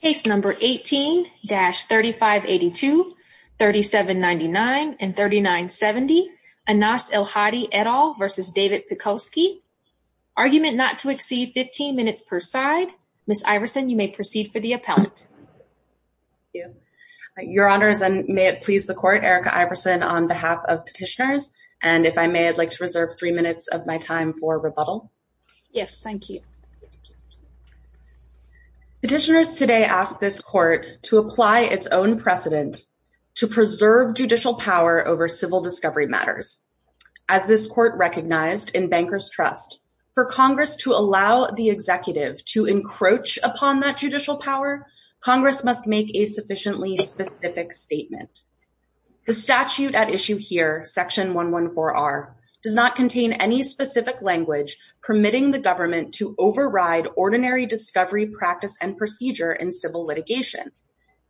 Case No. 18-3582, 3799 and 3970, Anas Elhady et al. v. David Pekoske. Argument not to exceed 15 minutes per side. Ms. Iverson, you may proceed for the appellate. Thank you. Your Honors, and may it please the Court, Erica Iverson on behalf of Petitioners, and if I may, I'd like to reserve three minutes of my time for rebuttal. Yes, thank you. Petitioners today ask this Court to apply its own precedent to preserve judicial power over civil discovery matters. As this Court recognized in Banker's Trust, for Congress to allow the executive to encroach upon that judicial power, Congress must make a sufficiently specific statement. The statute at issue here, Section 114R, does not contain any specific language permitting the government to override ordinary discovery practice and procedure in civil litigation.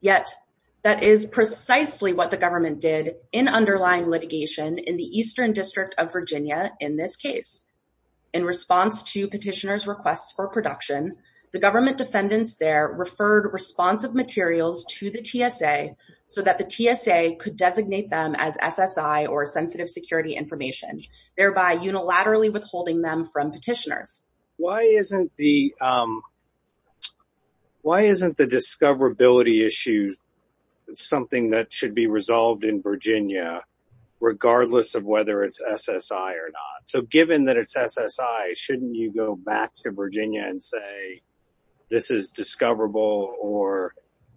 Yet, that is precisely what the government did in underlying litigation in the Eastern District of Virginia in this case. In response to Petitioners' requests for production, the government defendants there referred responsive materials to the TSA so that the TSA could designate them as SSI or Sensitive Security Information, thereby unilaterally withholding them from Petitioners. Why isn't the discoverability issue something that should be resolved in Virginia, regardless of whether it's SSI or not? So, given that it's SSI, shouldn't you go back to Virginia and say, this is discoverable, or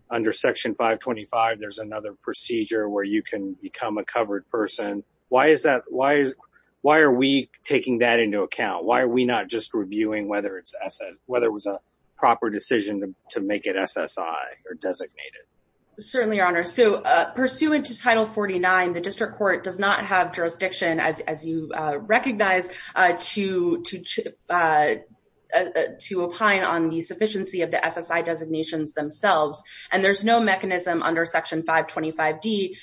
under Section 525 there's another procedure where you can become a covered person? Why are we taking that into account? Why are we not just reviewing whether it was a proper decision to make it SSI or designated? Certainly, Your Honor. So, pursuant to Title 49, the District Court does not have jurisdiction, as you recognize, to opine on the sufficiency of the SSI designations themselves, and there's no mechanism under Section 525d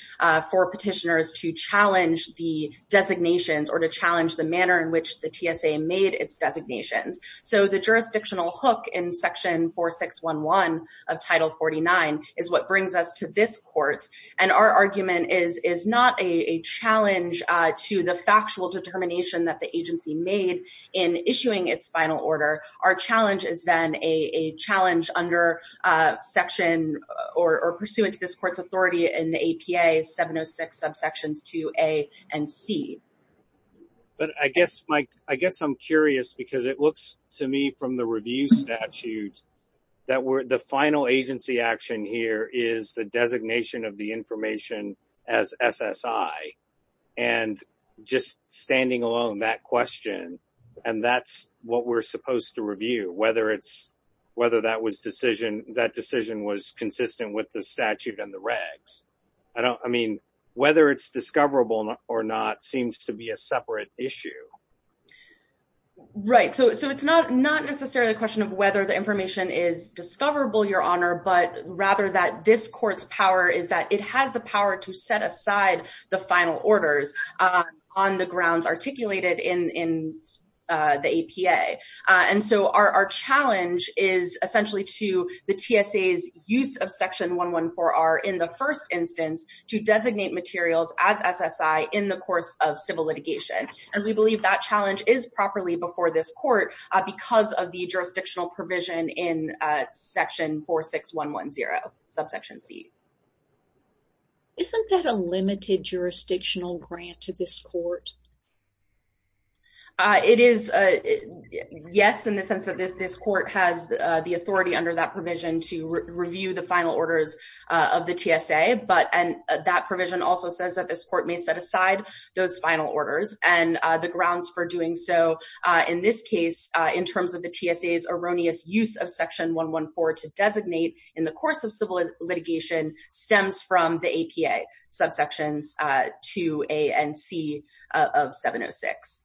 for Petitioners to challenge the designations or to challenge the manner in which the TSA made its designations. So, the jurisdictional hook in Section 4611 of Title 49 is what brings us to this Court, and our argument is not a challenge to the factual determination that the agency made in issuing its final order. Our challenge is then a challenge under Section, or pursuant to this Court's authority in the APA, 706 subsections 2a and c. But I guess, Mike, I guess I'm curious because it looks to me from the review statute that the final agency action here is the designation of the information as SSI, and just standing alone that question, and that's what we're supposed to review, whether that was decision, that decision was consistent with the statute and the regs. I mean, whether it's discoverable or not seems to be a separate issue. Right. So, it's not necessarily a question of whether the information is discoverable, Your Honor, but rather that this Court's power is that it has the power to set aside the final orders on the grounds articulated in the APA. And so, our challenge is essentially to the TSA's use of Section 114R in the first instance to designate materials as SSI in the course of civil litigation, and we believe that challenge is properly before this Court because of the jurisdictional provision in Section 46110, subsection c. Isn't that a limited jurisdictional grant to this Court? It is, yes, in the sense that this Court has the authority under that provision to review the final orders of the TSA, but that provision also says that this Court may set aside those final orders and the grounds for doing so, in this case, in terms of the TSA's erroneous use of Section 114 to designate in the course of civil litigation stems from the APA, subsections 2a and c of 706.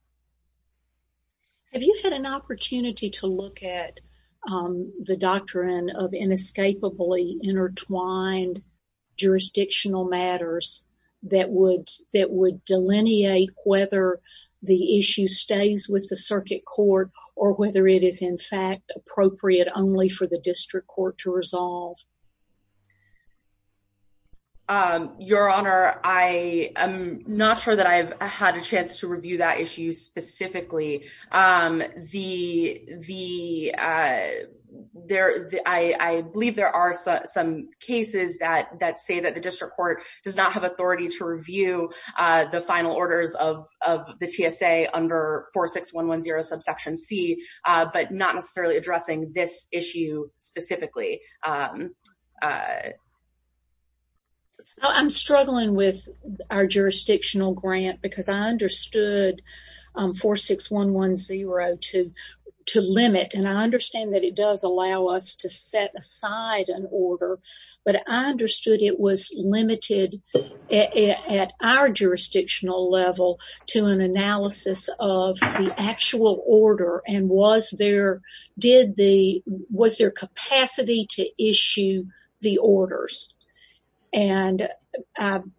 Have you had an opportunity to look at the doctrine of inescapably intertwined jurisdictional matters that would delineate whether the issue stays with the circuit court or whether it is, in fact, appropriate only for the district court to resolve? Your Honor, I am not sure that I've had a chance to review that issue specifically. I believe there are some cases that say that the district court does not have authority to review the final orders of the TSA under 46110, subsection c, but not necessarily addressing this issue specifically. I'm struggling with our jurisdictional grant because I understood 46110 to limit, and I understand that it does allow us to set aside an order, but I understood it was limited at our jurisdictional level to an analysis of the actual order and was there capacity to issue the orders. And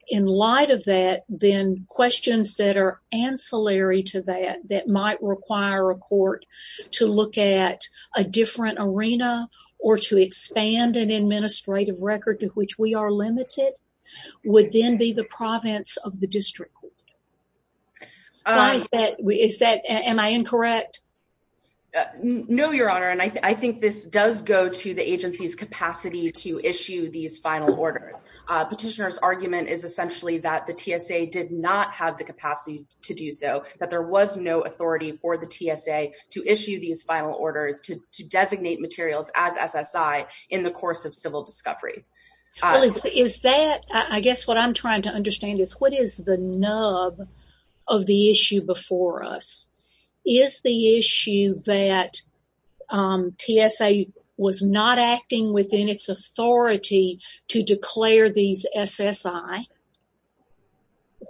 in light of that, then questions that are ancillary to that, that might require a court to look at a different arena or to expand an administrative record to which we are limited, would then be the province of the district. Am I incorrect? No, Your Honor, and I think this does go to the agency's capacity to issue these final orders. Petitioner's argument is essentially that the TSA did not have the capacity to do so, that there was no authority for the TSA to issue these final orders to designate materials as SSI in the course of civil discovery. Is that, I guess what I'm trying to understand is, what is the nub of the issue before us? Is the issue that TSA was not acting within its authority to declare these SSI,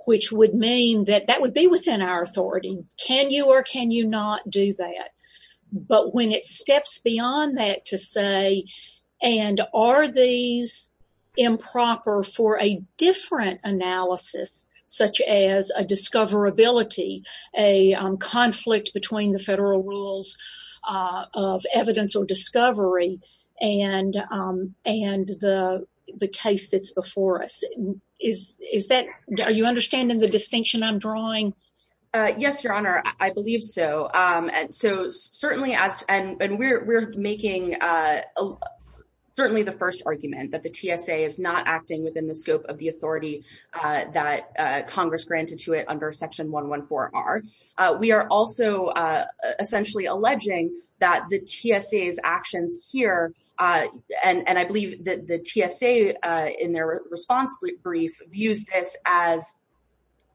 which would mean that that would be within our authority. Can you or can you do that? But when it steps beyond that to say, and are these improper for a different analysis, such as a discoverability, a conflict between the federal rules of evidence or discovery, and the case that's before us, is that, are you understanding the distinction I'm drawing? Yes, Your Honor, I believe so. And we're making certainly the first argument that the TSA is not acting within the scope of the authority that Congress granted to it under Section 114R. We are also essentially alleging that the TSA's actions here, and I believe that the TSA in their response brief, views this as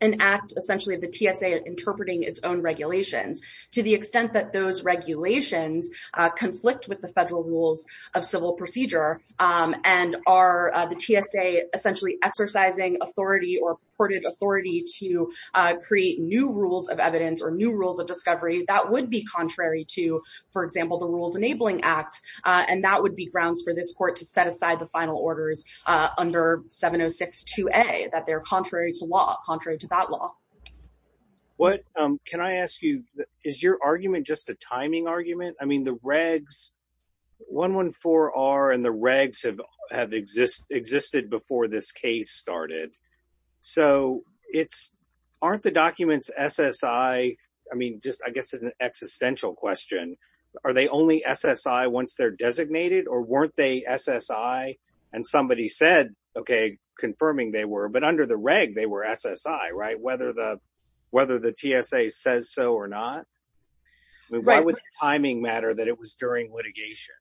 an act essentially of the TSA interpreting its own regulations. To the extent that those regulations conflict with the federal rules of civil procedure, and are the TSA essentially exercising authority or purported authority to create new rules of evidence or new rules of discovery, that would be contrary to, for example, the Rules Enabling Act, and that would be grounds for this Court to set aside the final orders under 706-2A, that they're contrary to law, contrary to that law. What, can I ask you, is your argument just a timing argument? I mean, the regs, 114R and the regs have existed before this case started. So, aren't the documents SSI, I mean, just, I guess it's an existential question, are they only SSI once they're designated, or weren't they SSI and somebody said, okay, confirming they were, but under the reg, they were SSI, right? Whether the TSA says so or not? Why would the timing matter that it was during litigation?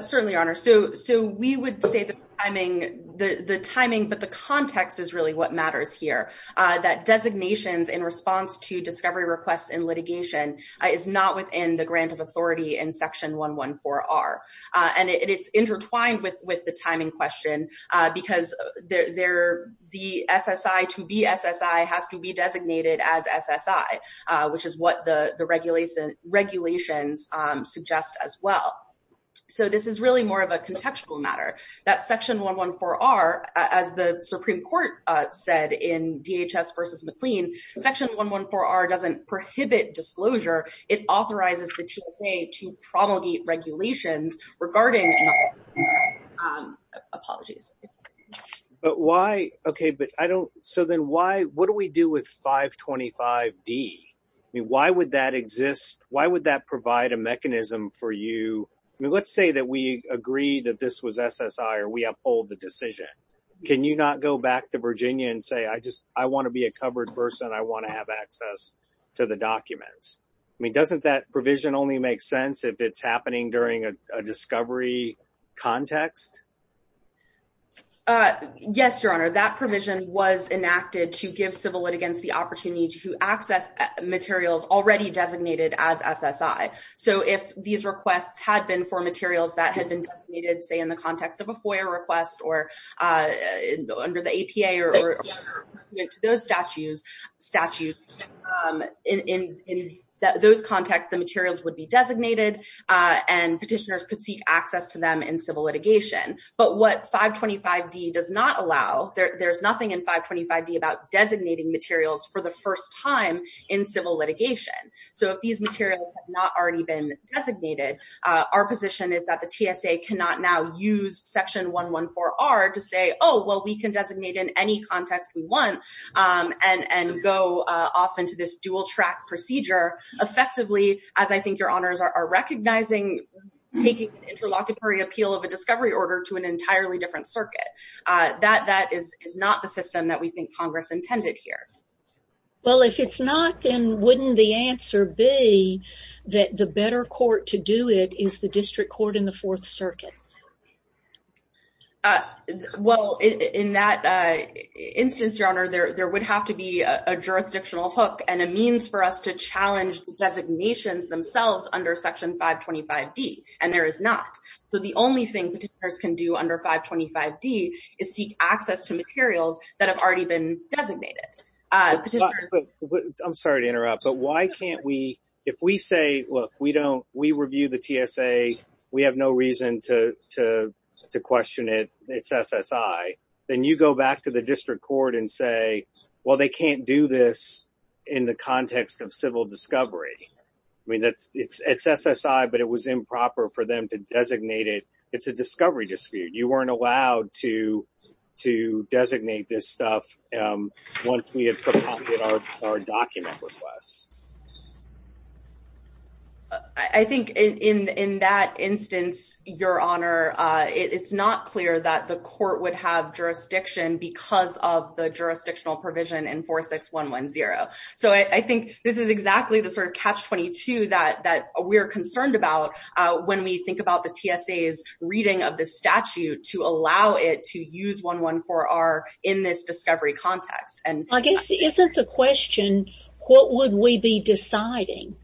Certainly, Your Honor. So, we would say the timing, but the context is really what matters here, that designations in response to discovery requests in litigation is not within the grant of authority in Section 114R. And it's intertwined with the timing question, because the SSI to be SSI has to be designated as SSI, which is what the regulations suggest as well. So, this is really more of a contextual matter, that Section 114R, as the Supreme Court said in DHS versus McLean, Section 114R doesn't prohibit disclosure, it authorizes the TSA to promulgate regulations regarding, apologies. But why, okay, but I don't, so then why, what do we do with 525D? I mean, why would that exist? Why would that provide a mechanism for you? I mean, let's say that we agree that this was SSI, or we uphold the decision. Can you not go back to Virginia and say, I just, I want to be a covered person, I want to have access to the documents. I mean, doesn't that provision only make sense if it's happening during a hearing? That provision was enacted to give civil litigants the opportunity to access materials already designated as SSI. So, if these requests had been for materials that had been designated, say, in the context of a FOIA request, or under the APA, or those statutes, in those contexts, the materials would be designated, and petitioners could seek access to them in civil litigation. But what 525D does not allow, there's nothing in 525D about designating materials for the first time in civil litigation. So, if these materials have not already been designated, our position is that the TSA cannot now use section 114R to say, oh, well, we can designate in any context we want, and go off into this dual-track procedure. Effectively, as I think Your Honors are recognizing, taking an interlocutory appeal of a discovery order to an entirely different circuit. That is not the system that we think Congress intended here. Well, if it's not, then wouldn't the answer be that the better court to do it is the district court in the Fourth Circuit? Well, in that instance, Your Honor, there would have to be a jurisdictional hook and a challenge to designations themselves under section 525D, and there is not. So, the only thing petitioners can do under 525D is seek access to materials that have already been designated. I'm sorry to interrupt, but why can't we, if we say, look, we don't, we review the TSA, we have no reason to question it, it's SSI, then you go back to the district court and say, well, they can't do this in the context of civil discovery. I mean, it's SSI, but it was improper for them to designate it. It's a discovery dispute. You weren't allowed to designate this stuff once we had prompted our document requests. I think in that instance, Your Honor, it's not clear that the court would have jurisdiction because of the jurisdictional provision in 46110. So, I think this is exactly the sort of catch-22 that we're concerned about when we think about the TSA's reading of the statute to allow it to use 114R in this discovery context. I guess, isn't the question, what would we be deciding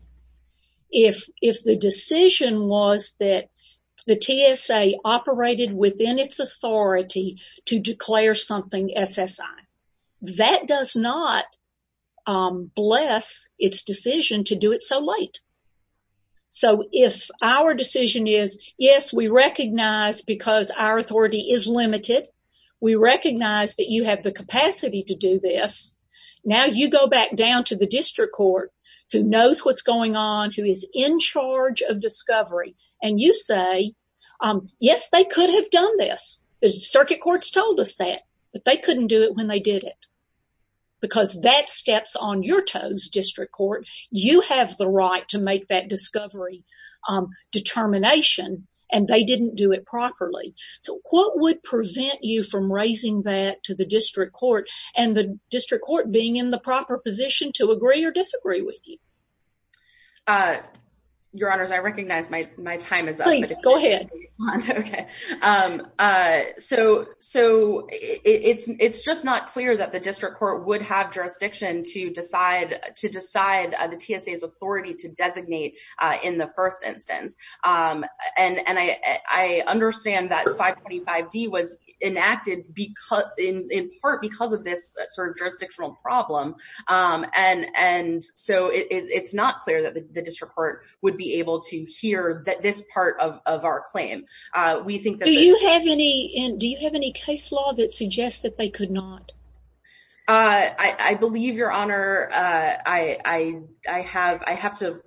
if the decision was that TSA operated within its authority to declare something SSI? That does not bless its decision to do it so late. So, if our decision is, yes, we recognize because our authority is limited, we recognize that you have the capacity to do this, now you go back down to district court who knows what's going on, who is in charge of discovery, and you say, yes, they could have done this. The circuit courts told us that, but they couldn't do it when they did it because that steps on your toes, district court. You have the right to make that discovery determination, and they didn't do it properly. So, what would prevent you from raising that to district court and the district court being in the proper position to agree or disagree with you? Your honors, I recognize my time is up. Please, go ahead. Okay. So, it's just not clear that the district court would have jurisdiction to decide the TSA's authority to designate in the first instance. And I understand that 525D was enacted in part because of this sort of jurisdictional problem. And so, it's not clear that the district court would be able to hear this part of our claim. Do you have any case law that suggests that they could not? I believe, your honor, I have to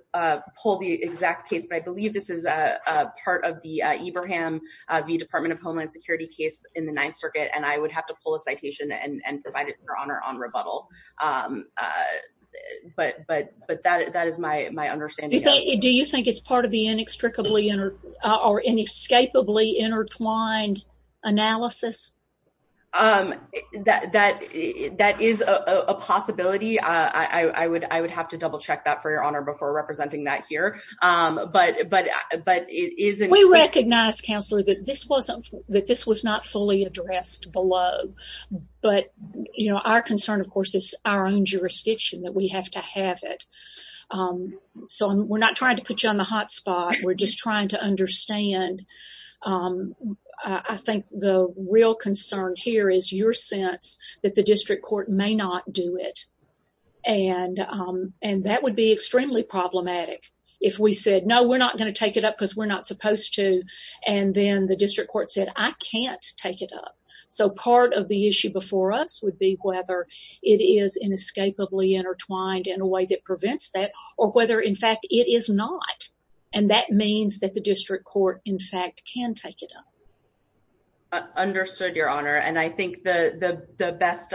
pull the exact case, but I believe this is a part of the Ibrahim v. Department of Homeland Security case in the Ninth Circuit, and I would have to pull a citation and provide it for honor on rebuttal. But that is my understanding. Do you think it's part of the inextricably or inescapably intertwined analysis? That is a possibility. I would have to double check that for your honor before representing that here. But it is- We recognize, counselor, that this was not fully addressed below. But our concern, of course, is our own jurisdiction that we have to have it. So, we're not trying to put you on the hot spot. We're just trying to understand. I think the real concern here is your sense that the district court may not do it. And that would be extremely problematic if we said, no, we're not going to take it up because we're not supposed to. And then the district court said, I can't take it up. So, part of the issue before us would be whether it is inescapably intertwined in a way that prevents that or whether, in fact, it is not. And that means that the district court, in fact, can take it up. Understood, your honor. And I think the best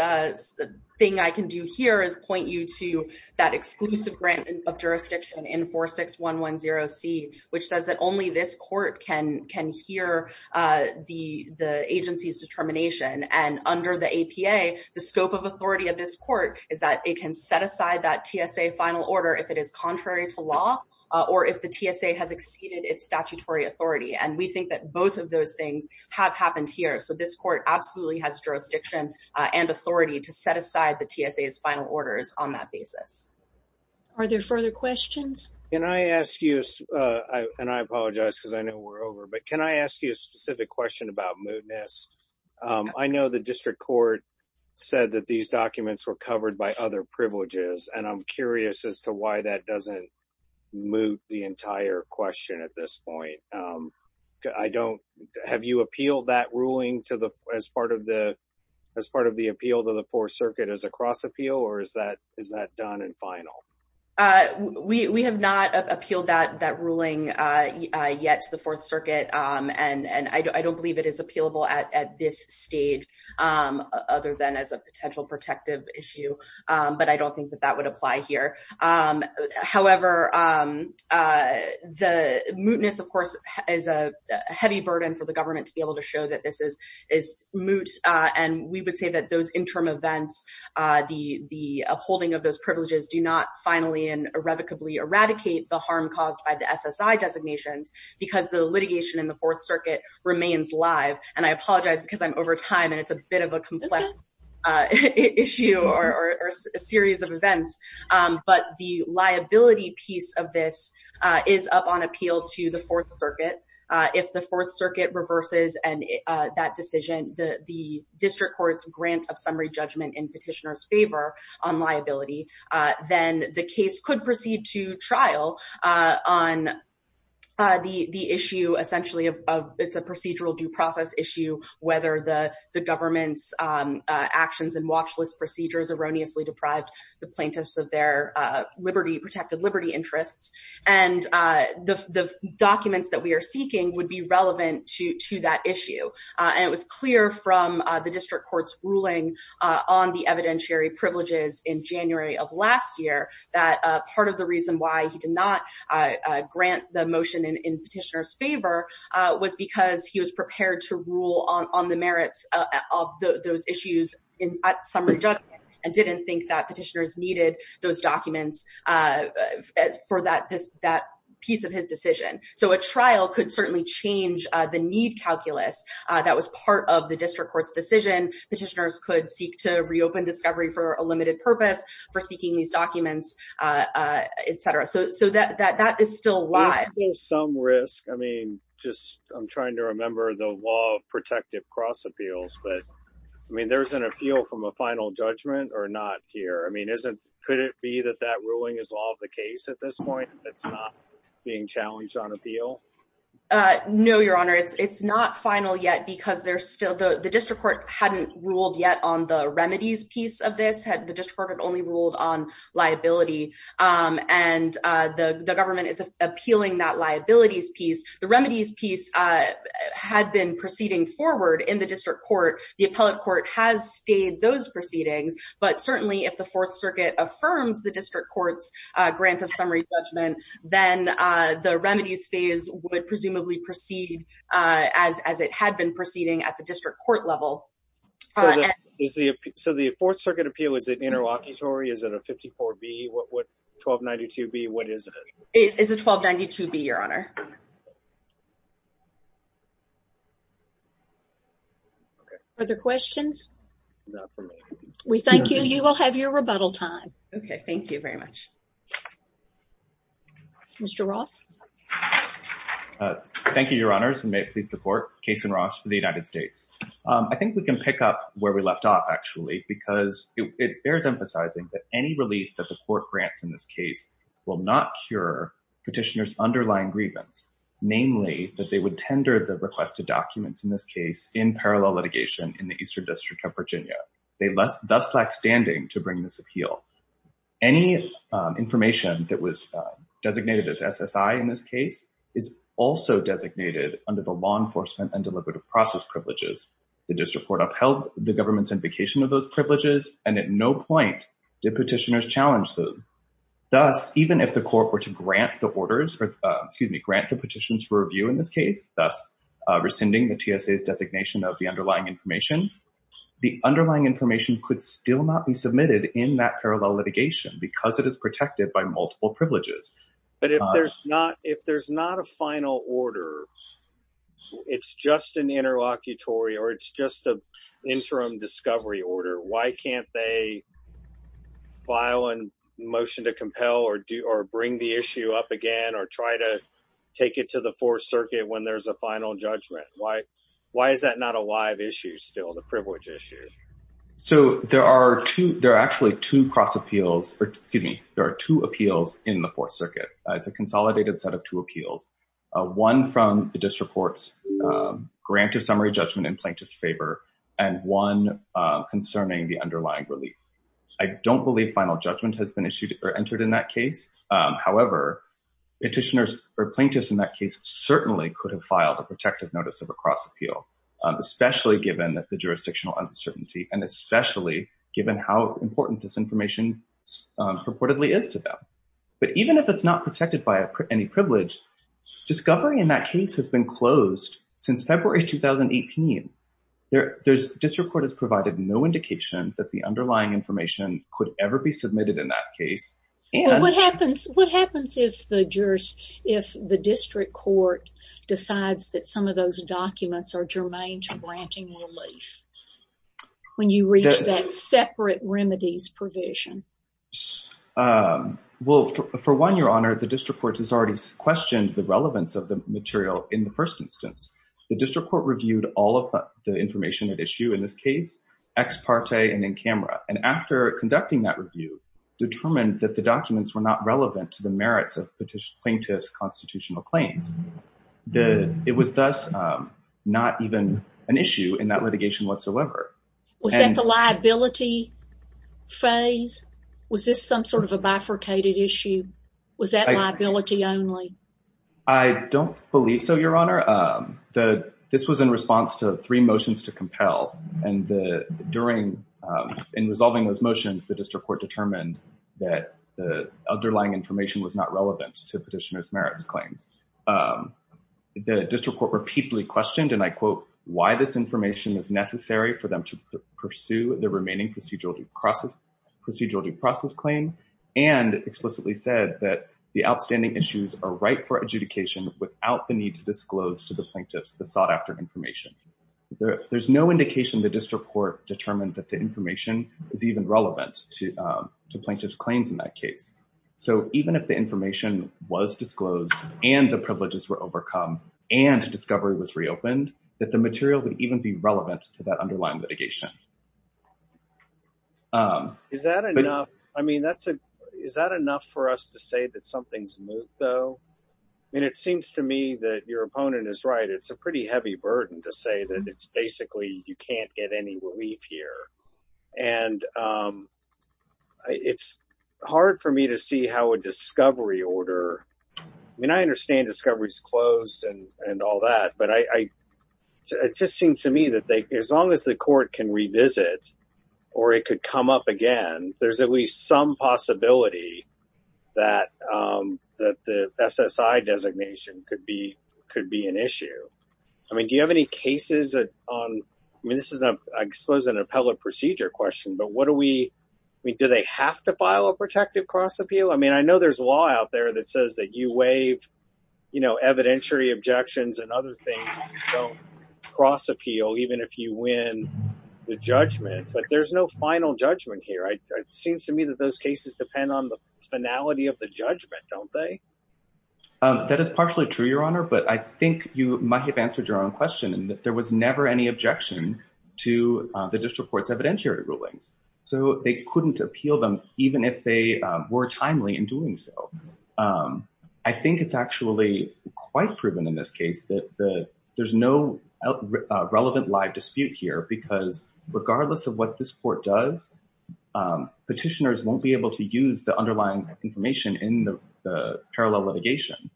thing I can do here is point you to that exclusive grant of jurisdiction in 46110C, which says that only this court can hear the agency's determination. And under the APA, the scope of authority of this court is that it is contrary to law or if the TSA has exceeded its statutory authority. And we think that both of those things have happened here. So, this court absolutely has jurisdiction and authority to set aside the TSA's final orders on that basis. Are there further questions? Can I ask you, and I apologize because I know we're over, but can I ask you a specific question about mootness? I know the district court said that these documents were covered by other agencies, but that doesn't moot the entire question at this point. Have you appealed that ruling as part of the appeal to the Fourth Circuit as a cross appeal or is that done and final? We have not appealed that ruling yet to the Fourth Circuit. And I don't believe it is appealable at this stage other than as a potential protective issue. But I don't apply here. However, the mootness, of course, is a heavy burden for the government to be able to show that this is moot. And we would say that those interim events, the upholding of those privileges do not finally and irrevocably eradicate the harm caused by the SSI designations because the litigation in the Fourth Circuit remains live. And I apologize because I'm over time and it's a complex issue or a series of events. But the liability piece of this is up on appeal to the Fourth Circuit. If the Fourth Circuit reverses that decision, the district court's grant of summary judgment in petitioner's favor on liability, then the case could proceed to trial on the issue essentially of it's a procedural due process issue, whether the government's actions and watchlist procedures erroneously deprived the plaintiffs of their liberty, protected liberty interests. And the documents that we are seeking would be relevant to that issue. And it was clear from the district court's ruling on the evidentiary privileges in January of last year, that part of reason why he did not grant the motion in petitioner's favor was because he was prepared to rule on the merits of those issues at summary judgment and didn't think that petitioners needed those documents for that piece of his decision. So a trial could certainly change the need calculus that was part of the district court's decision. Petitioners could seek to reopen discovery for limited purpose for seeking these documents, et cetera. So that is still live. There's still some risk. I mean, just I'm trying to remember the law of protective cross appeals, but I mean, there's an appeal from a final judgment or not here. I mean, could it be that that ruling is all of the case at this point? It's not being challenged on appeal? No, Your Honor. It's not final yet because there's still the district court hadn't ruled yet on the district court had only ruled on liability. And the government is appealing that liabilities piece. The remedies piece had been proceeding forward in the district court. The appellate court has stayed those proceedings. But certainly if the Fourth Circuit affirms the district court's grant of summary judgment, then the remedies phase would presumably proceed as it had been interlocutory. Is it a 54 B? What would 1292 be? What is it? It is a 1292 B, Your Honor. Are there questions? We thank you. You will have your rebuttal time. Okay. Thank you very much. Mr. Ross. Thank you, Your Honor. May please support case in Rosh for the United States. I think we can pick up where we left off, actually, because it bears emphasizing that any relief that the court grants in this case will not cure petitioners' underlying grievance, namely that they would tender the requested documents in this case in parallel litigation in the Eastern District of Virginia. They thus lack standing to bring this appeal. Any information that was designated as SSI in this case is also designated under the law The district court upheld the government's invocation of those privileges, and at no point did petitioners challenge them. Thus, even if the court were to grant the petitions for review in this case, thus rescinding the TSA's designation of the underlying information, the underlying information could still not be submitted in that parallel litigation because it is protected by or it's just an interim discovery order. Why can't they file a motion to compel or bring the issue up again or try to take it to the Fourth Circuit when there's a final judgment? Why is that not a live issue still, the privilege issue? So, there are actually two appeals in the Fourth Circuit. It's a consolidated set of two appeals, one from the district court's grant of summary judgment in plaintiff's favor and one concerning the underlying relief. I don't believe final judgment has been issued or entered in that case. However, petitioners or plaintiffs in that case certainly could have filed a protective notice of a cross appeal, especially given that the jurisdictional uncertainty and especially given how important this information purportedly is to them. But even if it's not protected by any privilege, discovery in that case has been closed since February 2018. The district court has provided no indication that the underlying information could ever be submitted in that case. And what happens if the district court decides that some of those documents are germane to granting relief when you reach that separate remedies provision? Well, for one, Your Honor, the district court has already questioned the relevance of the material in the first instance. The district court reviewed all of the information at issue in this case, ex parte and in camera. And after conducting that review, determined that the documents were not relevant to the merits of plaintiff's constitutional claims. It was thus not even an issue in that litigation whatsoever. Was that the liability phase? Was this some sort of a bifurcated issue? Was that liability only? I don't believe so, Your Honor. This was in response to three motions to compel. And in resolving those motions, the district court determined that the underlying information was not relevant to petitioner's is necessary for them to pursue the remaining procedural due process claim and explicitly said that the outstanding issues are right for adjudication without the need to disclose to the plaintiffs the sought-after information. There's no indication the district court determined that the information is even relevant to plaintiff's claims in that case. So even if the information was disclosed and the privileges were overcome and discovery was reopened, that the material would even be relevant to that underlying litigation. Is that enough? I mean, is that enough for us to say that something's moved though? I mean, it seems to me that your opponent is right. It's a pretty heavy burden to say that it's basically you can't get any relief here. And it's hard for me to see how a discovery order, I mean, I understand discovery is closed and all that, but it just seems to me that as long as the court can revisit or it could come up again, there's at least some possibility that the SSI designation could be an issue. I mean, do you have any cases that on, I mean, this is, I suppose, an appellate procedure question, but what do we, I mean, do they have to file a protective cross appeal? I mean, I know there's a law out there that says that you waive, you know, evidentiary objections and other things. So cross appeal, even if you win the judgment, but there's no final judgment here. It seems to me that those cases depend on the finality of the judgment, don't they? That is partially true, your honor, but I think you might have answered your own question and that there was never any objection to the district court's evidentiary rulings. So they couldn't appeal them even if they were timely in doing so. I think it's actually quite proven in this case that there's no relevant live dispute here, because regardless of what this court does, petitioners won't be able to use the underlying information in the parallel litigation.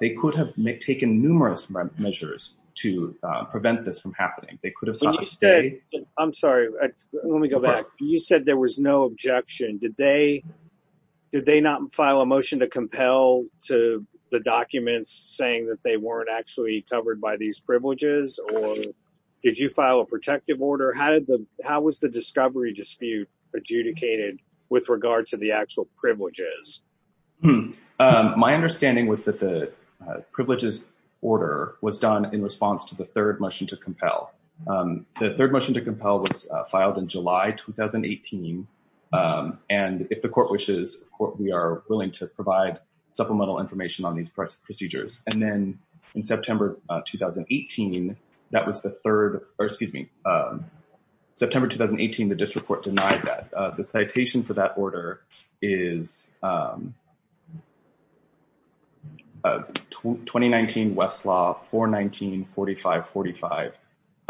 They could have taken numerous measures to prevent this from happening. They could have sought to stay. I'm sorry, let me go back. You said there was no objection. Did they not file a motion to compel to the documents saying that they weren't actually covered by these privileges? Or did you file a protective order? How did the, how was the discovery dispute adjudicated with regard to the actual privileges? My understanding was that the privileges order was done in response to the third motion to compel. The third motion to compel was filed in July 2018, and if the court wishes, we are willing to provide supplemental information on these procedures. And then in September 2018, that was the third, or excuse me, September 2018, the district court denied that. The citation for that order is 2019 Westlaw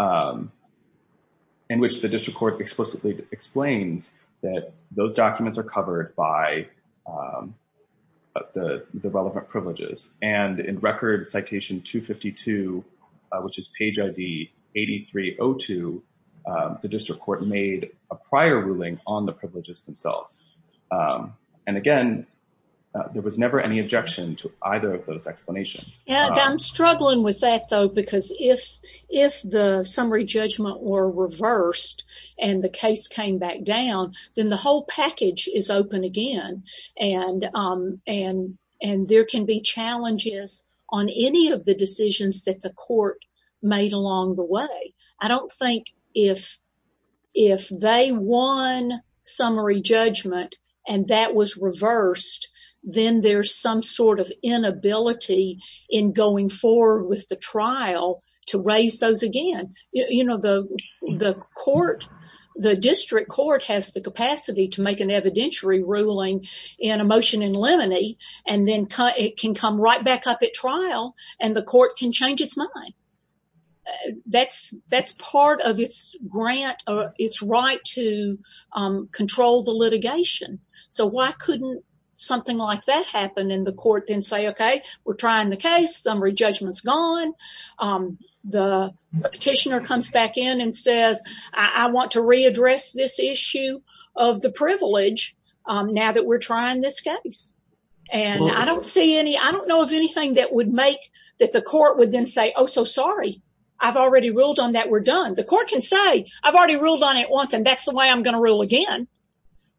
419-4545, in which the district court explicitly explains that those documents are covered by the relevant privileges. And in record citation 252, which is page ID 8302, the district court made a prior ruling on the privileges themselves. And again, there was never any objection to either of those explanations. And I'm struggling with that, though, because if the summary judgment were reversed, and the case came back down, then the whole package is open again. And there can be challenges on any of the decisions that the court made along the way. I don't think if they won summary judgment, and that was reversed, then there's some sort of inability in going forward with the trial to raise those again. You know, the court, the district court has the capacity to make an trial, and the court can change its mind. That's part of its grant, or its right to control the litigation. So why couldn't something like that happen in the court and say, okay, we're trying the case, summary judgment's gone. The petitioner comes back in and says, I want to readdress this issue of the privilege, now that we're trying this case. And I don't see anything that would make that the court would then say, oh, so sorry, I've already ruled on that, we're done. The court can say, I've already ruled on it once, and that's the way I'm going to rule again.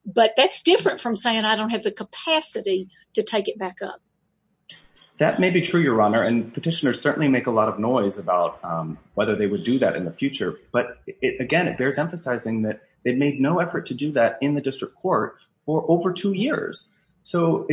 But that's different from saying, I don't have the capacity to take it back up. That may be true, Your Honor. And petitioners certainly make a lot of noise about whether they would do that in the future. But again, it bears emphasizing that they've made no effort to do that in the district court for over two years. So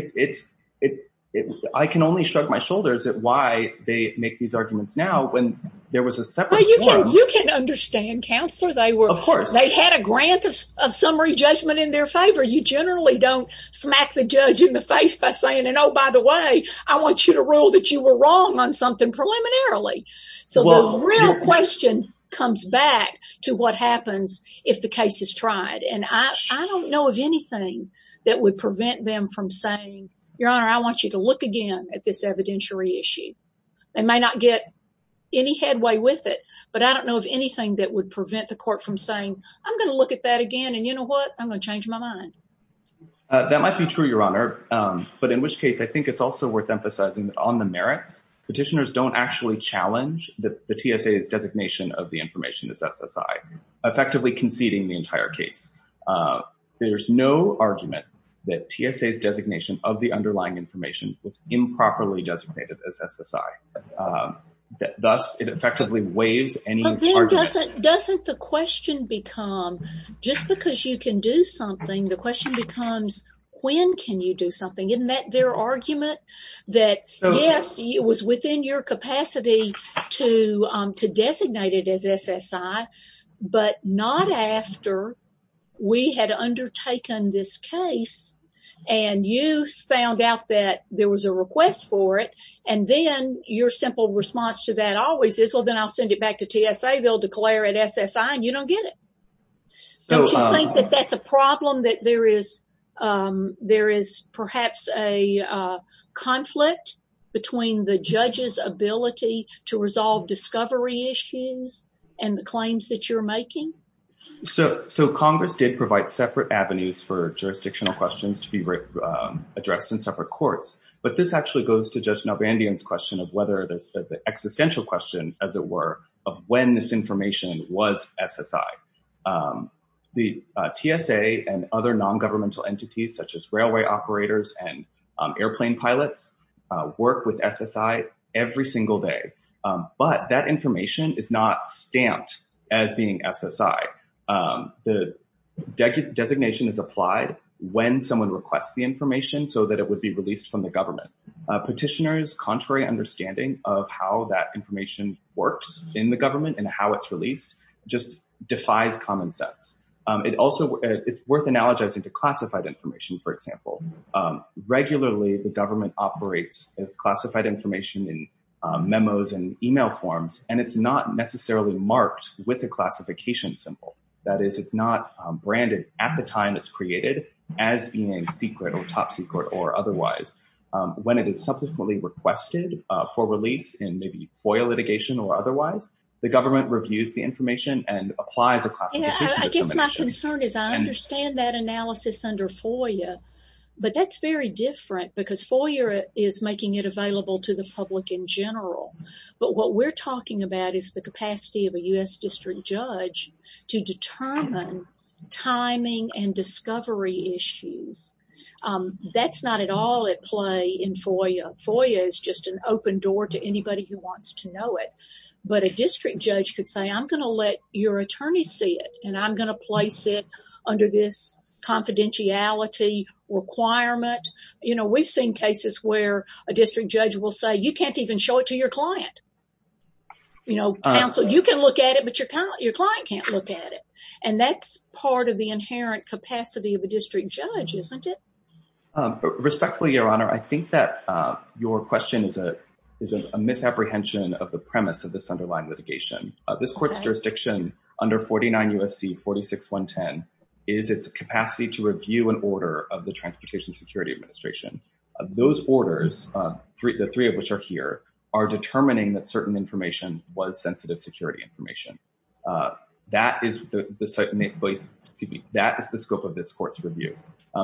I can only shrug my shoulders at why they make these arguments now, when there was a separate court. You can understand, Counselor. Of course. They had a grant of summary judgment in their favor. You generally don't smack the judge in the face by saying, oh, by the way, I want you to rule that you were wrong on something preliminarily. So the real question comes back to what happens if the case is tried. And I don't know of anything that would prevent them from saying, Your Honor, I want you to look again at this evidentiary issue. They may not get any headway with it, but I don't know of anything that would prevent the court from saying, I'm going to look at that again, and you know what, I'm going to change my mind. That might be true, Your Honor. But in which case, I think it's also worth emphasizing that on the TSA's designation of the information as SSI, effectively conceding the entire case. There's no argument that TSA's designation of the underlying information was improperly designated as SSI. Thus, it effectively waives any argument. Doesn't the question become, just because you can do something, the question becomes, when can you do something? Isn't that their argument? That yes, it was within your capacity to designate it as SSI, but not after we had undertaken this case, and you found out that there was a request for it, and then your simple response to that always is, well, then I'll send it back to TSA, they'll declare it SSI, you don't get it. Don't you think that that's a problem, that there is perhaps a conflict between the judge's ability to resolve discovery issues and the claims that you're making? So, Congress did provide separate avenues for jurisdictional questions to be addressed in separate courts, but this actually goes to Judge Nalbandian's question of whether the existential question, as it were, of when this information was SSI. The TSA and other non-governmental entities, such as railway operators and airplane pilots, work with SSI every single day, but that information is not stamped as being SSI. The designation is applied when someone requests the information so that it would be released from the government. Petitioners' contrary understanding of how that information works in the government and how it's released just defies common sense. It's worth analogizing to classified information, for example. Regularly, the government operates classified information in memos and email forms, and it's not necessarily marked with a classification symbol. That is, it's not subsequently requested for release in FOIA litigation or otherwise. The government reviews the information and applies the classification. I guess my concern is I understand that analysis under FOIA, but that's very different because FOIA is making it available to the public in general, but what we're talking about is the capacity of a U.S. district judge to determine timing and FOIA is just an open door to anybody who wants to know it, but a district judge could say, I'm going to let your attorney see it, and I'm going to place it under this confidentiality requirement. You know, we've seen cases where a district judge will say, you can't even show it to your client. You know, counsel, you can look at it, but your client can't look at it, and that's part of the inherent capacity of a district judge, isn't it? Respectfully, Your Honor, I think that your question is a misapprehension of the premise of this underlying litigation. This court's jurisdiction under 49 U.S.C. 46110 is its capacity to review an order of the Transportation Security Administration. Those orders, the three of which are here, are determining that certain information was sensitive security information. That is the scope of this court's review.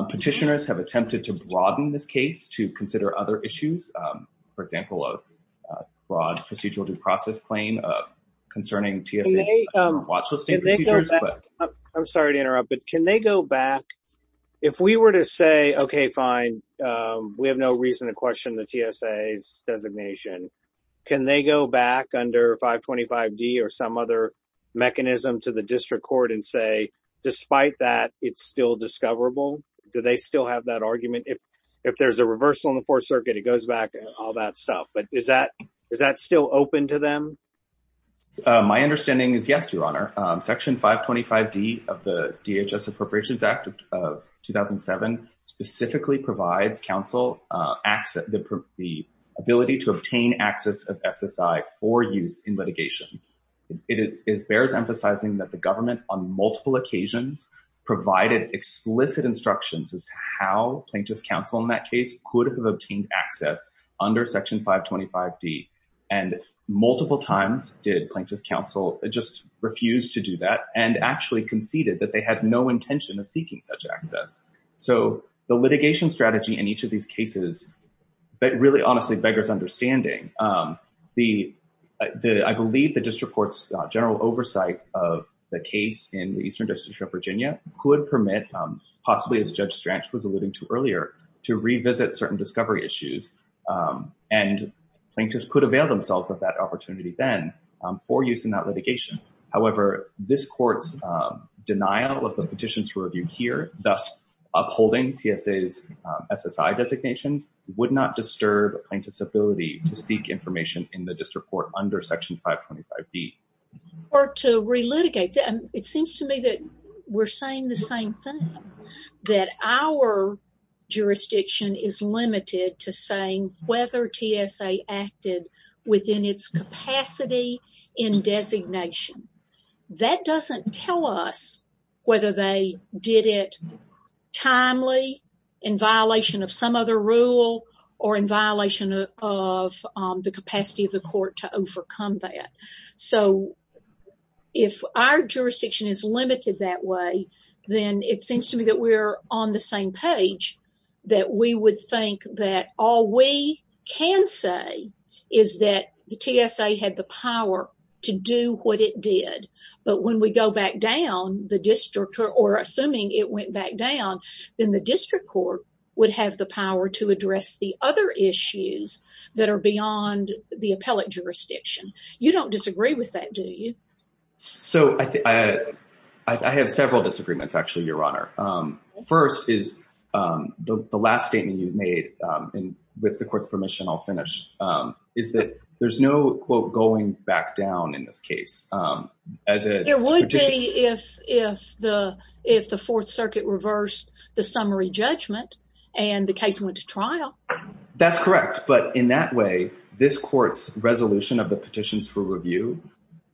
Petitioners have attempted to broaden this case to consider other issues, for example, a broad procedural due process claim concerning TSA watch listing procedures. I'm sorry to interrupt, but can they go back, if we were to say, okay, fine, we have no reason to question the TSA's designation, can they go back under 525D or some other mechanism to the district court and say, despite that, it's still discoverable? Do they still have that argument? If there's a reversal in the Fourth Circuit, it goes back, all that stuff, but is that still open to them? My understanding is yes, Your Honor. Section 525D of the DHS Appropriations Act of 2007 specifically provides counsel the ability to obtain access of SSI for use in litigation. It bears emphasizing that the government, on multiple occasions, provided explicit instructions as to how Plaintiff's counsel in that case could have obtained access under Section 525D. Multiple times did Plaintiff's counsel just refuse to do that and actually conceded that they had no intention of seeking such access. The litigation strategy in each of these cases, really, honestly, beggars understanding. I believe the district court's general oversight of the case in the Eastern District of Virginia could permit, possibly, as Judge Stranch was alluding to earlier, to revisit certain discovery issues. Plaintiffs could avail themselves of that petition to review here, thus upholding TSA's SSI designations, would not disturb Plaintiff's ability to seek information in the district court under Section 525D. Or to relitigate that. It seems to me that we're saying the same thing, that our jurisdiction is limited to saying whether TSA acted within its capacity in designation. That doesn't tell us whether they did it timely, in violation of some other rule, or in violation of the capacity of the court to overcome that. So, if our jurisdiction is limited that way, then it seems to me that we're on the same page, that we would think that all we can say is that the TSA had the power to do what it did. But when we go back down, the district, or assuming it went back down, then the district court would have the power to address the other issues that are beyond the appellate jurisdiction. You don't disagree with that, do you? So, I have several disagreements, actually, Your Honor. First is, the last statement you've made, and with the court's permission, I'll finish, is that there's no, quote, going back down in this case. It would be if the Fourth Circuit reversed the summary judgment and the case went to trial. That's correct, but in that way, this court's resolution of the petitions for review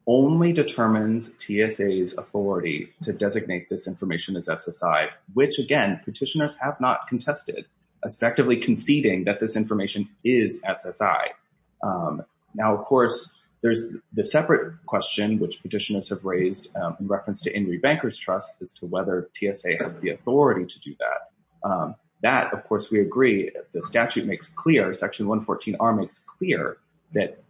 only determines TSA's authority to designate this SSI, which, again, petitioners have not contested, respectively conceding that this information is SSI. Now, of course, there's the separate question, which petitioners have raised in reference to Henry Banker's Trust, as to whether TSA has the authority to do that. That, of course, we agree. The statute makes clear, Section 114R makes clear, that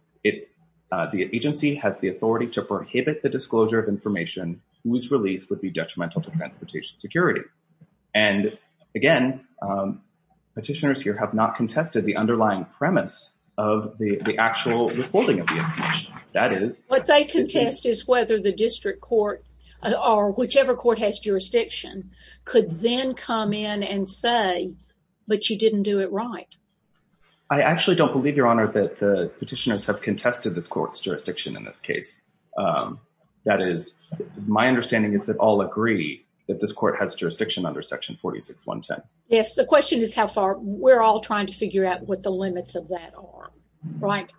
the agency has the authority to prohibit the disclosure of information whose release would be detrimental to transportation security. And, again, petitioners here have not contested the underlying premise of the actual withholding of the information. That is... What they contest is whether the district court, or whichever court has jurisdiction, could then come in and say, but you didn't do it right. I actually don't believe, Your Honor, that the petitioners have contested this court's that this court has jurisdiction under Section 46.1.10. Yes, the question is how far... We're all trying to figure out what the limits of that are, right?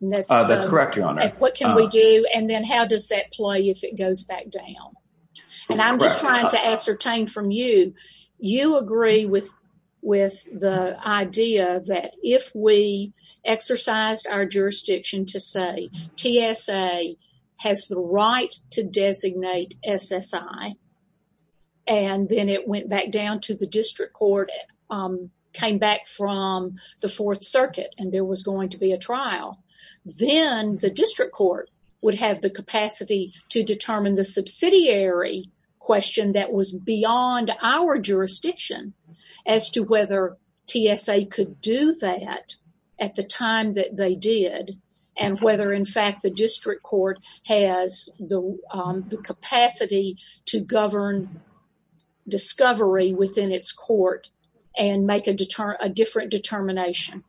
That's correct, Your Honor. What can we do, and then how does that play if it goes back down? And I'm just trying to ascertain from you, you agree with the idea that if we exercised our jurisdiction to say TSA has the authority to designate SSI, and then it went back down to the district court, came back from the Fourth Circuit and there was going to be a trial, then the district court would have the capacity to determine the subsidiary question that was beyond our jurisdiction as to whether TSA could do that at the time that they did, and whether, in fact, the district court has the capacity to govern discovery within its court and make a different determination.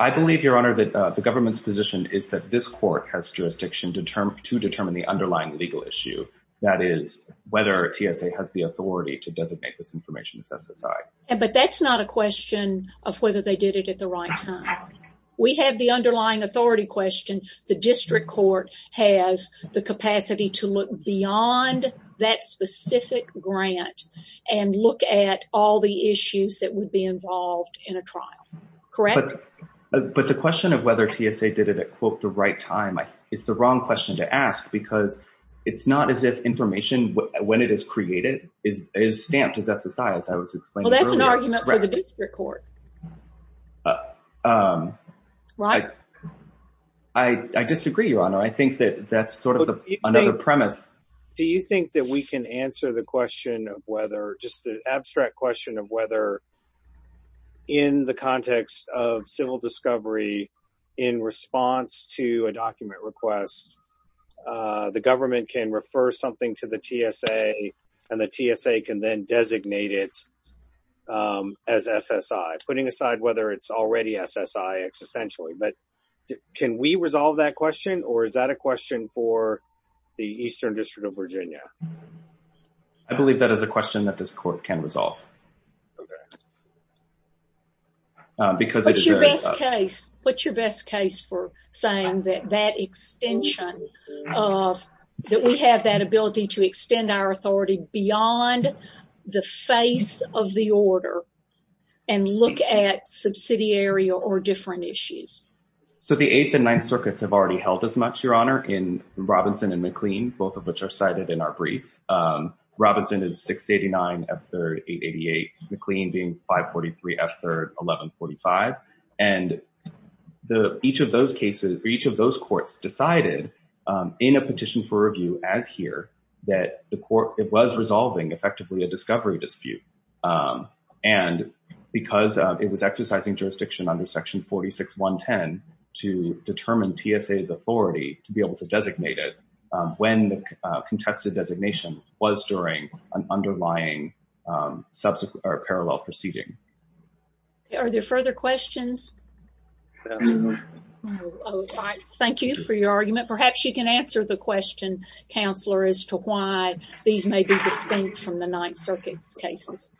I believe, Your Honor, that the government's position is that this court has jurisdiction to determine the underlying legal issue, that is, whether TSA has the authority to designate this information as SSI. But that's not a question of whether they did it at the right time. We have the underlying authority question. The district court has the capacity to look beyond that specific grant and look at all the issues that would be involved in a trial, correct? But the question of whether TSA did it at, quote, the right time, it's the wrong question to ask because it's not as if information when it is created is stamped as SSI, as I was explaining earlier. Well, that's an argument for the district court. Right. I disagree, Your Honor. I think that that's sort of another premise. Do you think that we can answer the question of whether, just the abstract question of whether, in the context of civil discovery, in response to a document request, the government can refer something to the TSA, and the TSA can then designate it as SSI, putting aside whether it's already SSI existentially. But can we resolve that question, or is that a question for the Eastern District of Virginia? I believe that is a question that this court can resolve. Okay. What's your best case for saying that that extension of, that we have that ability to the order and look at subsidiary or different issues? So the Eighth and Ninth Circuits have already held as much, Your Honor, in Robinson and McLean, both of which are cited in our brief. Robinson is 689 F3rd 888, McLean being 543 F3rd 1145. And each of those cases, each of those courts decided in a petition for review, as here, that the court, it was resolving effectively a discovery dispute. And because it was exercising jurisdiction under section 46.110 to determine TSA's authority to be able to designate it, when the contested designation was during an underlying parallel proceeding. Are there further questions? No. Thank you for your argument. Perhaps you can answer the question, Counselor, as to why these may be distinct from the Ninth Circuit's cases.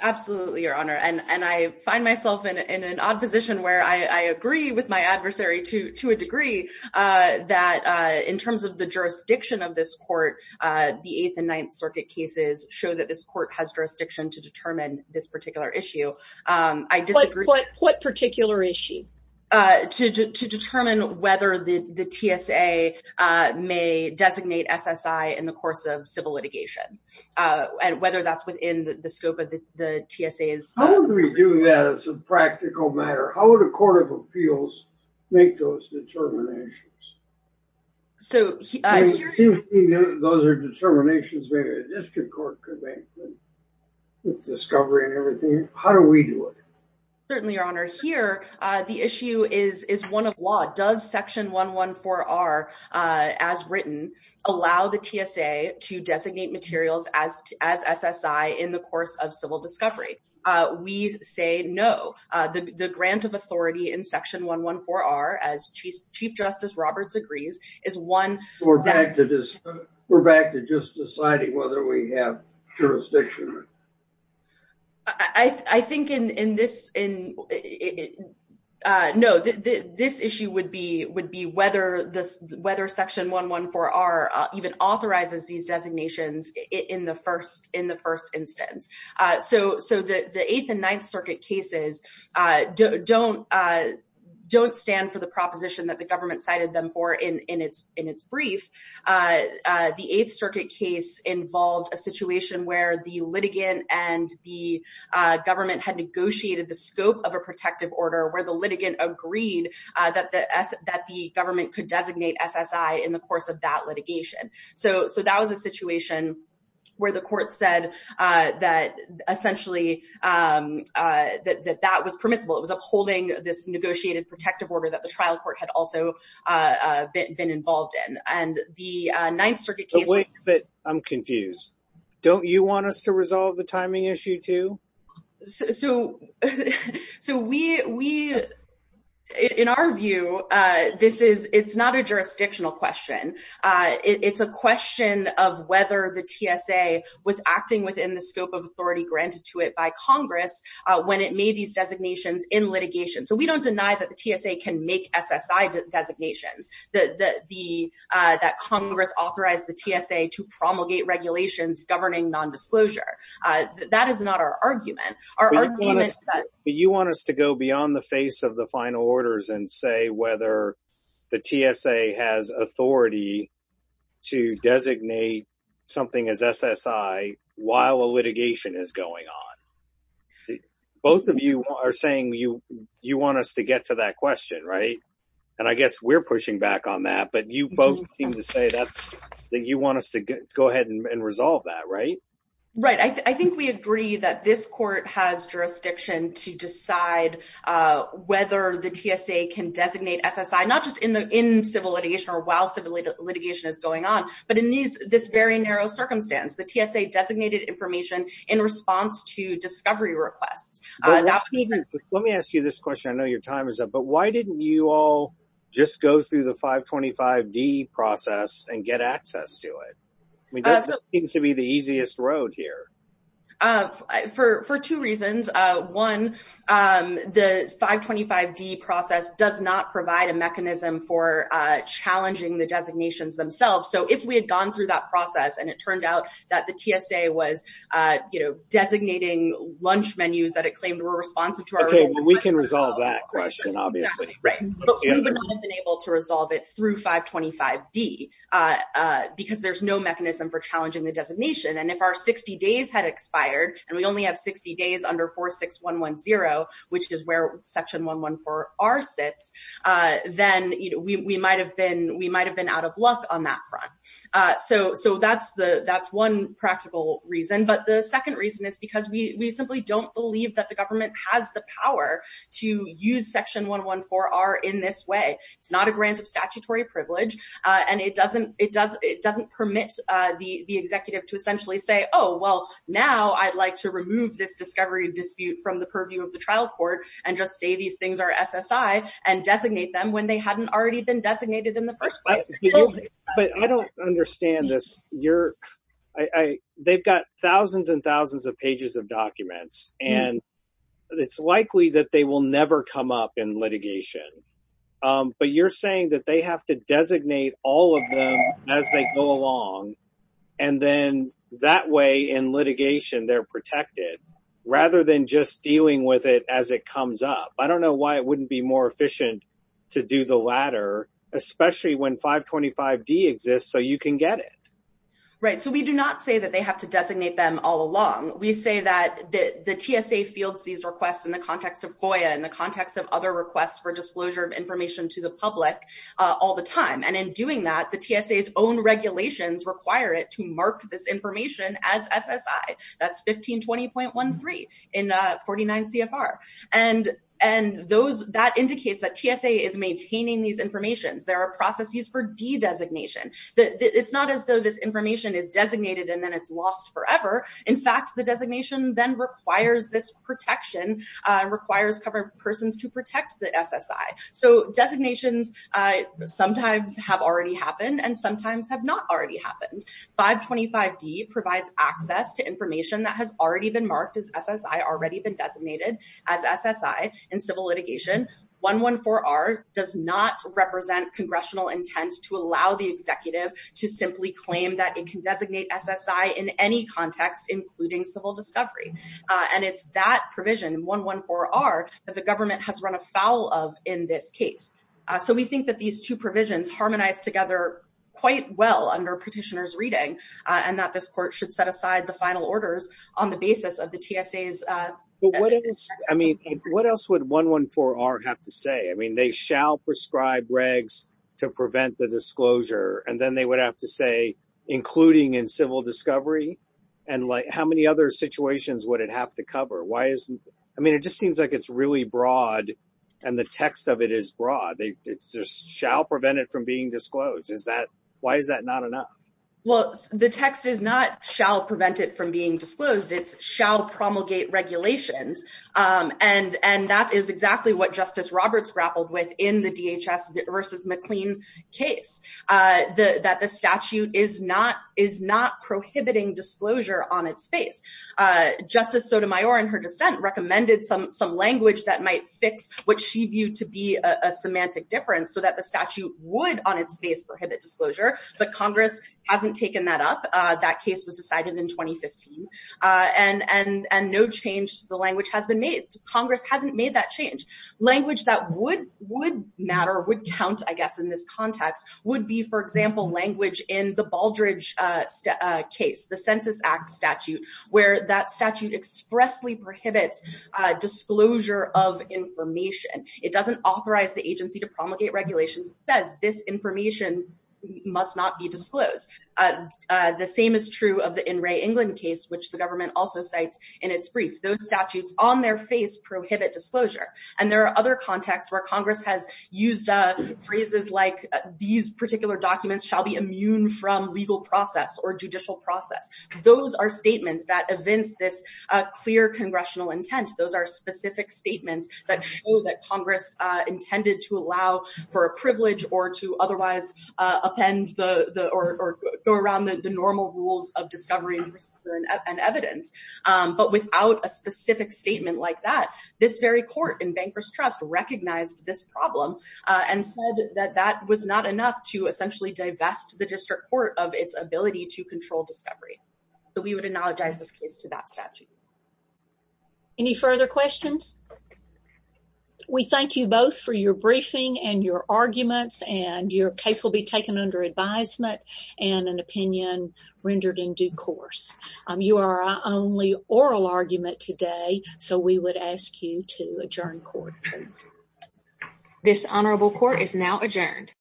Absolutely, Your Honor. And I find myself in an odd position where I agree with my adversary to a degree that in terms of the jurisdiction of this court, the Eighth and Ninth Circuit cases show that this court has jurisdiction to determine this particular issue. I disagree. What particular issue? To determine whether the TSA may designate SSI in the course of civil litigation, and whether that's within the scope of the TSA's... How do we do that as a practical matter? How would a court of appeals make those determinations? Those are determinations maybe a district court could make, with discovery and everything. How do we do it? Here, the issue is one of law. Does Section 114R, as written, allow the TSA to designate materials as SSI in the course of civil discovery? We say no. The grant of authority in Section 114R, as Chief Justice Roberts agrees, is one... We're back to just deciding whether we have jurisdiction. I think this issue would be whether Section 114R even authorizes these designations in the first instance. The Eighth and Ninth Circuit cases don't stand for the proposition that the government cited them for in its brief. The Eighth Circuit case involved a situation where the litigant and the government had negotiated the scope of a protective order, where the litigant agreed that the government could designate SSI in the course of that litigation. That was a situation where the court said that, essentially, that that was permissible. It was upholding this negotiated protective order that the trial court had also been involved in. The Ninth Circuit case... You want us to resolve the timing issue, too? In our view, it's not a jurisdictional question. It's a question of whether the TSA was acting within the scope of authority granted to it by Congress when it made these designations in litigation. We don't deny that the TSA can make SSI designations, that Congress authorized the TSA to promulgate regulations governing nondisclosure. That is not our argument. You want us to go beyond the face of the final orders and say whether the TSA has authority to designate something as SSI while a litigation is going on. Both of you are saying you want us to get to that question, right? I guess we're pushing back on that, but you both seem to say that you want us to go ahead and resolve that, right? Right. I think we agree that this court has jurisdiction to decide whether the TSA can designate SSI, not just in civil litigation or while civil litigation is going on, but in this very narrow circumstance. The TSA designated information in response to discovery requests. Let me ask you this question. I know your time is up, but why didn't you all just go through the 525D process and get access to it? This seems to be the easiest road here. For two reasons. One, the 525D process does not provide a mechanism for challenging the designations themselves. If we had gone through that process and it turned out that the TSA was designating lunch menus that it claimed were responsive to our request. We can resolve that question, obviously. But we would not have been able to resolve it through 525D because there's no mechanism for challenging the designation. If our 60 days had expired and we only have 60 days under 46110, which is where section 114R sits, then we might have been out of luck on that front. That's one practical reason. The second reason is because we simply don't believe that the government has the power to use section 114R in this way. It's not a grant of statutory privilege and it doesn't permit the executive to essentially say, oh, well, now I'd like to remove this discovery dispute from the purview of the trial court and just say these things are SSI and designate them when they hadn't already been designated in the first place. But I don't understand this. They've got thousands and thousands of pages of documents and it's likely that they will never come up in litigation. But you're saying that they have to designate all of them as they go along and then that way in litigation they're protected rather than just dealing with it as it comes up. I don't know why it wouldn't be more efficient to do the latter, especially when 525D exists so you can get it. Right. So we do not say that they have to designate them all along. We say that the TSA fields these requests in the context of FOIA and the context of other requests for disclosure of information to the public all the time. And in doing that, the TSA's own regulations require it to mark this information as SSI. That's 1520.13 in 49 CFR. And that indicates that TSA is maintaining these informations. There are processes for de-designation. It's not as though this information is designated and then it's lost forever. In fact, the designation then requires this protection, requires covered persons to protect the SSI. So designations sometimes have already happened and sometimes have not already happened. 525D provides access to information that has already been marked as SSI, already been designated as SSI in civil litigation. 114R does not represent congressional intent to allow the executive to simply claim that it can designate SSI in any context, including civil discovery. And it's that provision in 114R that the government has run foul of in this case. So we think that these two provisions harmonize together quite well under petitioner's reading and that this court should set aside the final orders on the basis of the TSA's... But what else, I mean, what else would 114R have to say? I mean, they shall prescribe regs to prevent the disclosure. And then they would have to say, including in civil discovery. And like, how many other situations would it have to cover? Why isn't, I mean, it just seems like it's really broad and the text of it is broad. It's just shall prevent it from being disclosed. Is that, why is that not enough? Well, the text is not shall prevent it from being disclosed. It's shall promulgate regulations. And that is exactly what Justice Roberts grappled with in the DHS versus McLean case. That the statute is not prohibiting disclosure on its face. Justice Sotomayor in her dissent recommended some language that might fix what she viewed to be a semantic difference so that the statute would on its face prohibit disclosure. But Congress hasn't taken that up. That case was decided in 2015. And no change to the language has been made. Congress hasn't made that change. Language that would matter, would count, I guess, in this context would be, for example, language in the Baldrige case, the Census Act where that statute expressly prohibits disclosure of information. It doesn't authorize the agency to promulgate regulations. It says this information must not be disclosed. The same is true of the In Re England case, which the government also cites in its brief. Those statutes on their face prohibit disclosure. And there are other contexts where Congress has used phrases like these particular documents shall be immune from legal process or judicial process. Those are statements that evince this clear congressional intent. Those are specific statements that show that Congress intended to allow for a privilege or to otherwise append or go around the normal rules of discovery and evidence. But without a specific statement like that, this very court in Bankers Trust recognized this problem and said that that was not enough to essentially divest the district court of its ability to control discovery. But we would acknowledge this case to that statute. Any further questions? We thank you both for your briefing and your arguments and your case will be taken under advisement and an opinion rendered in due course. You are our only oral argument today, so we would ask you to adjourn court. This honorable court is now adjourned. Thank you.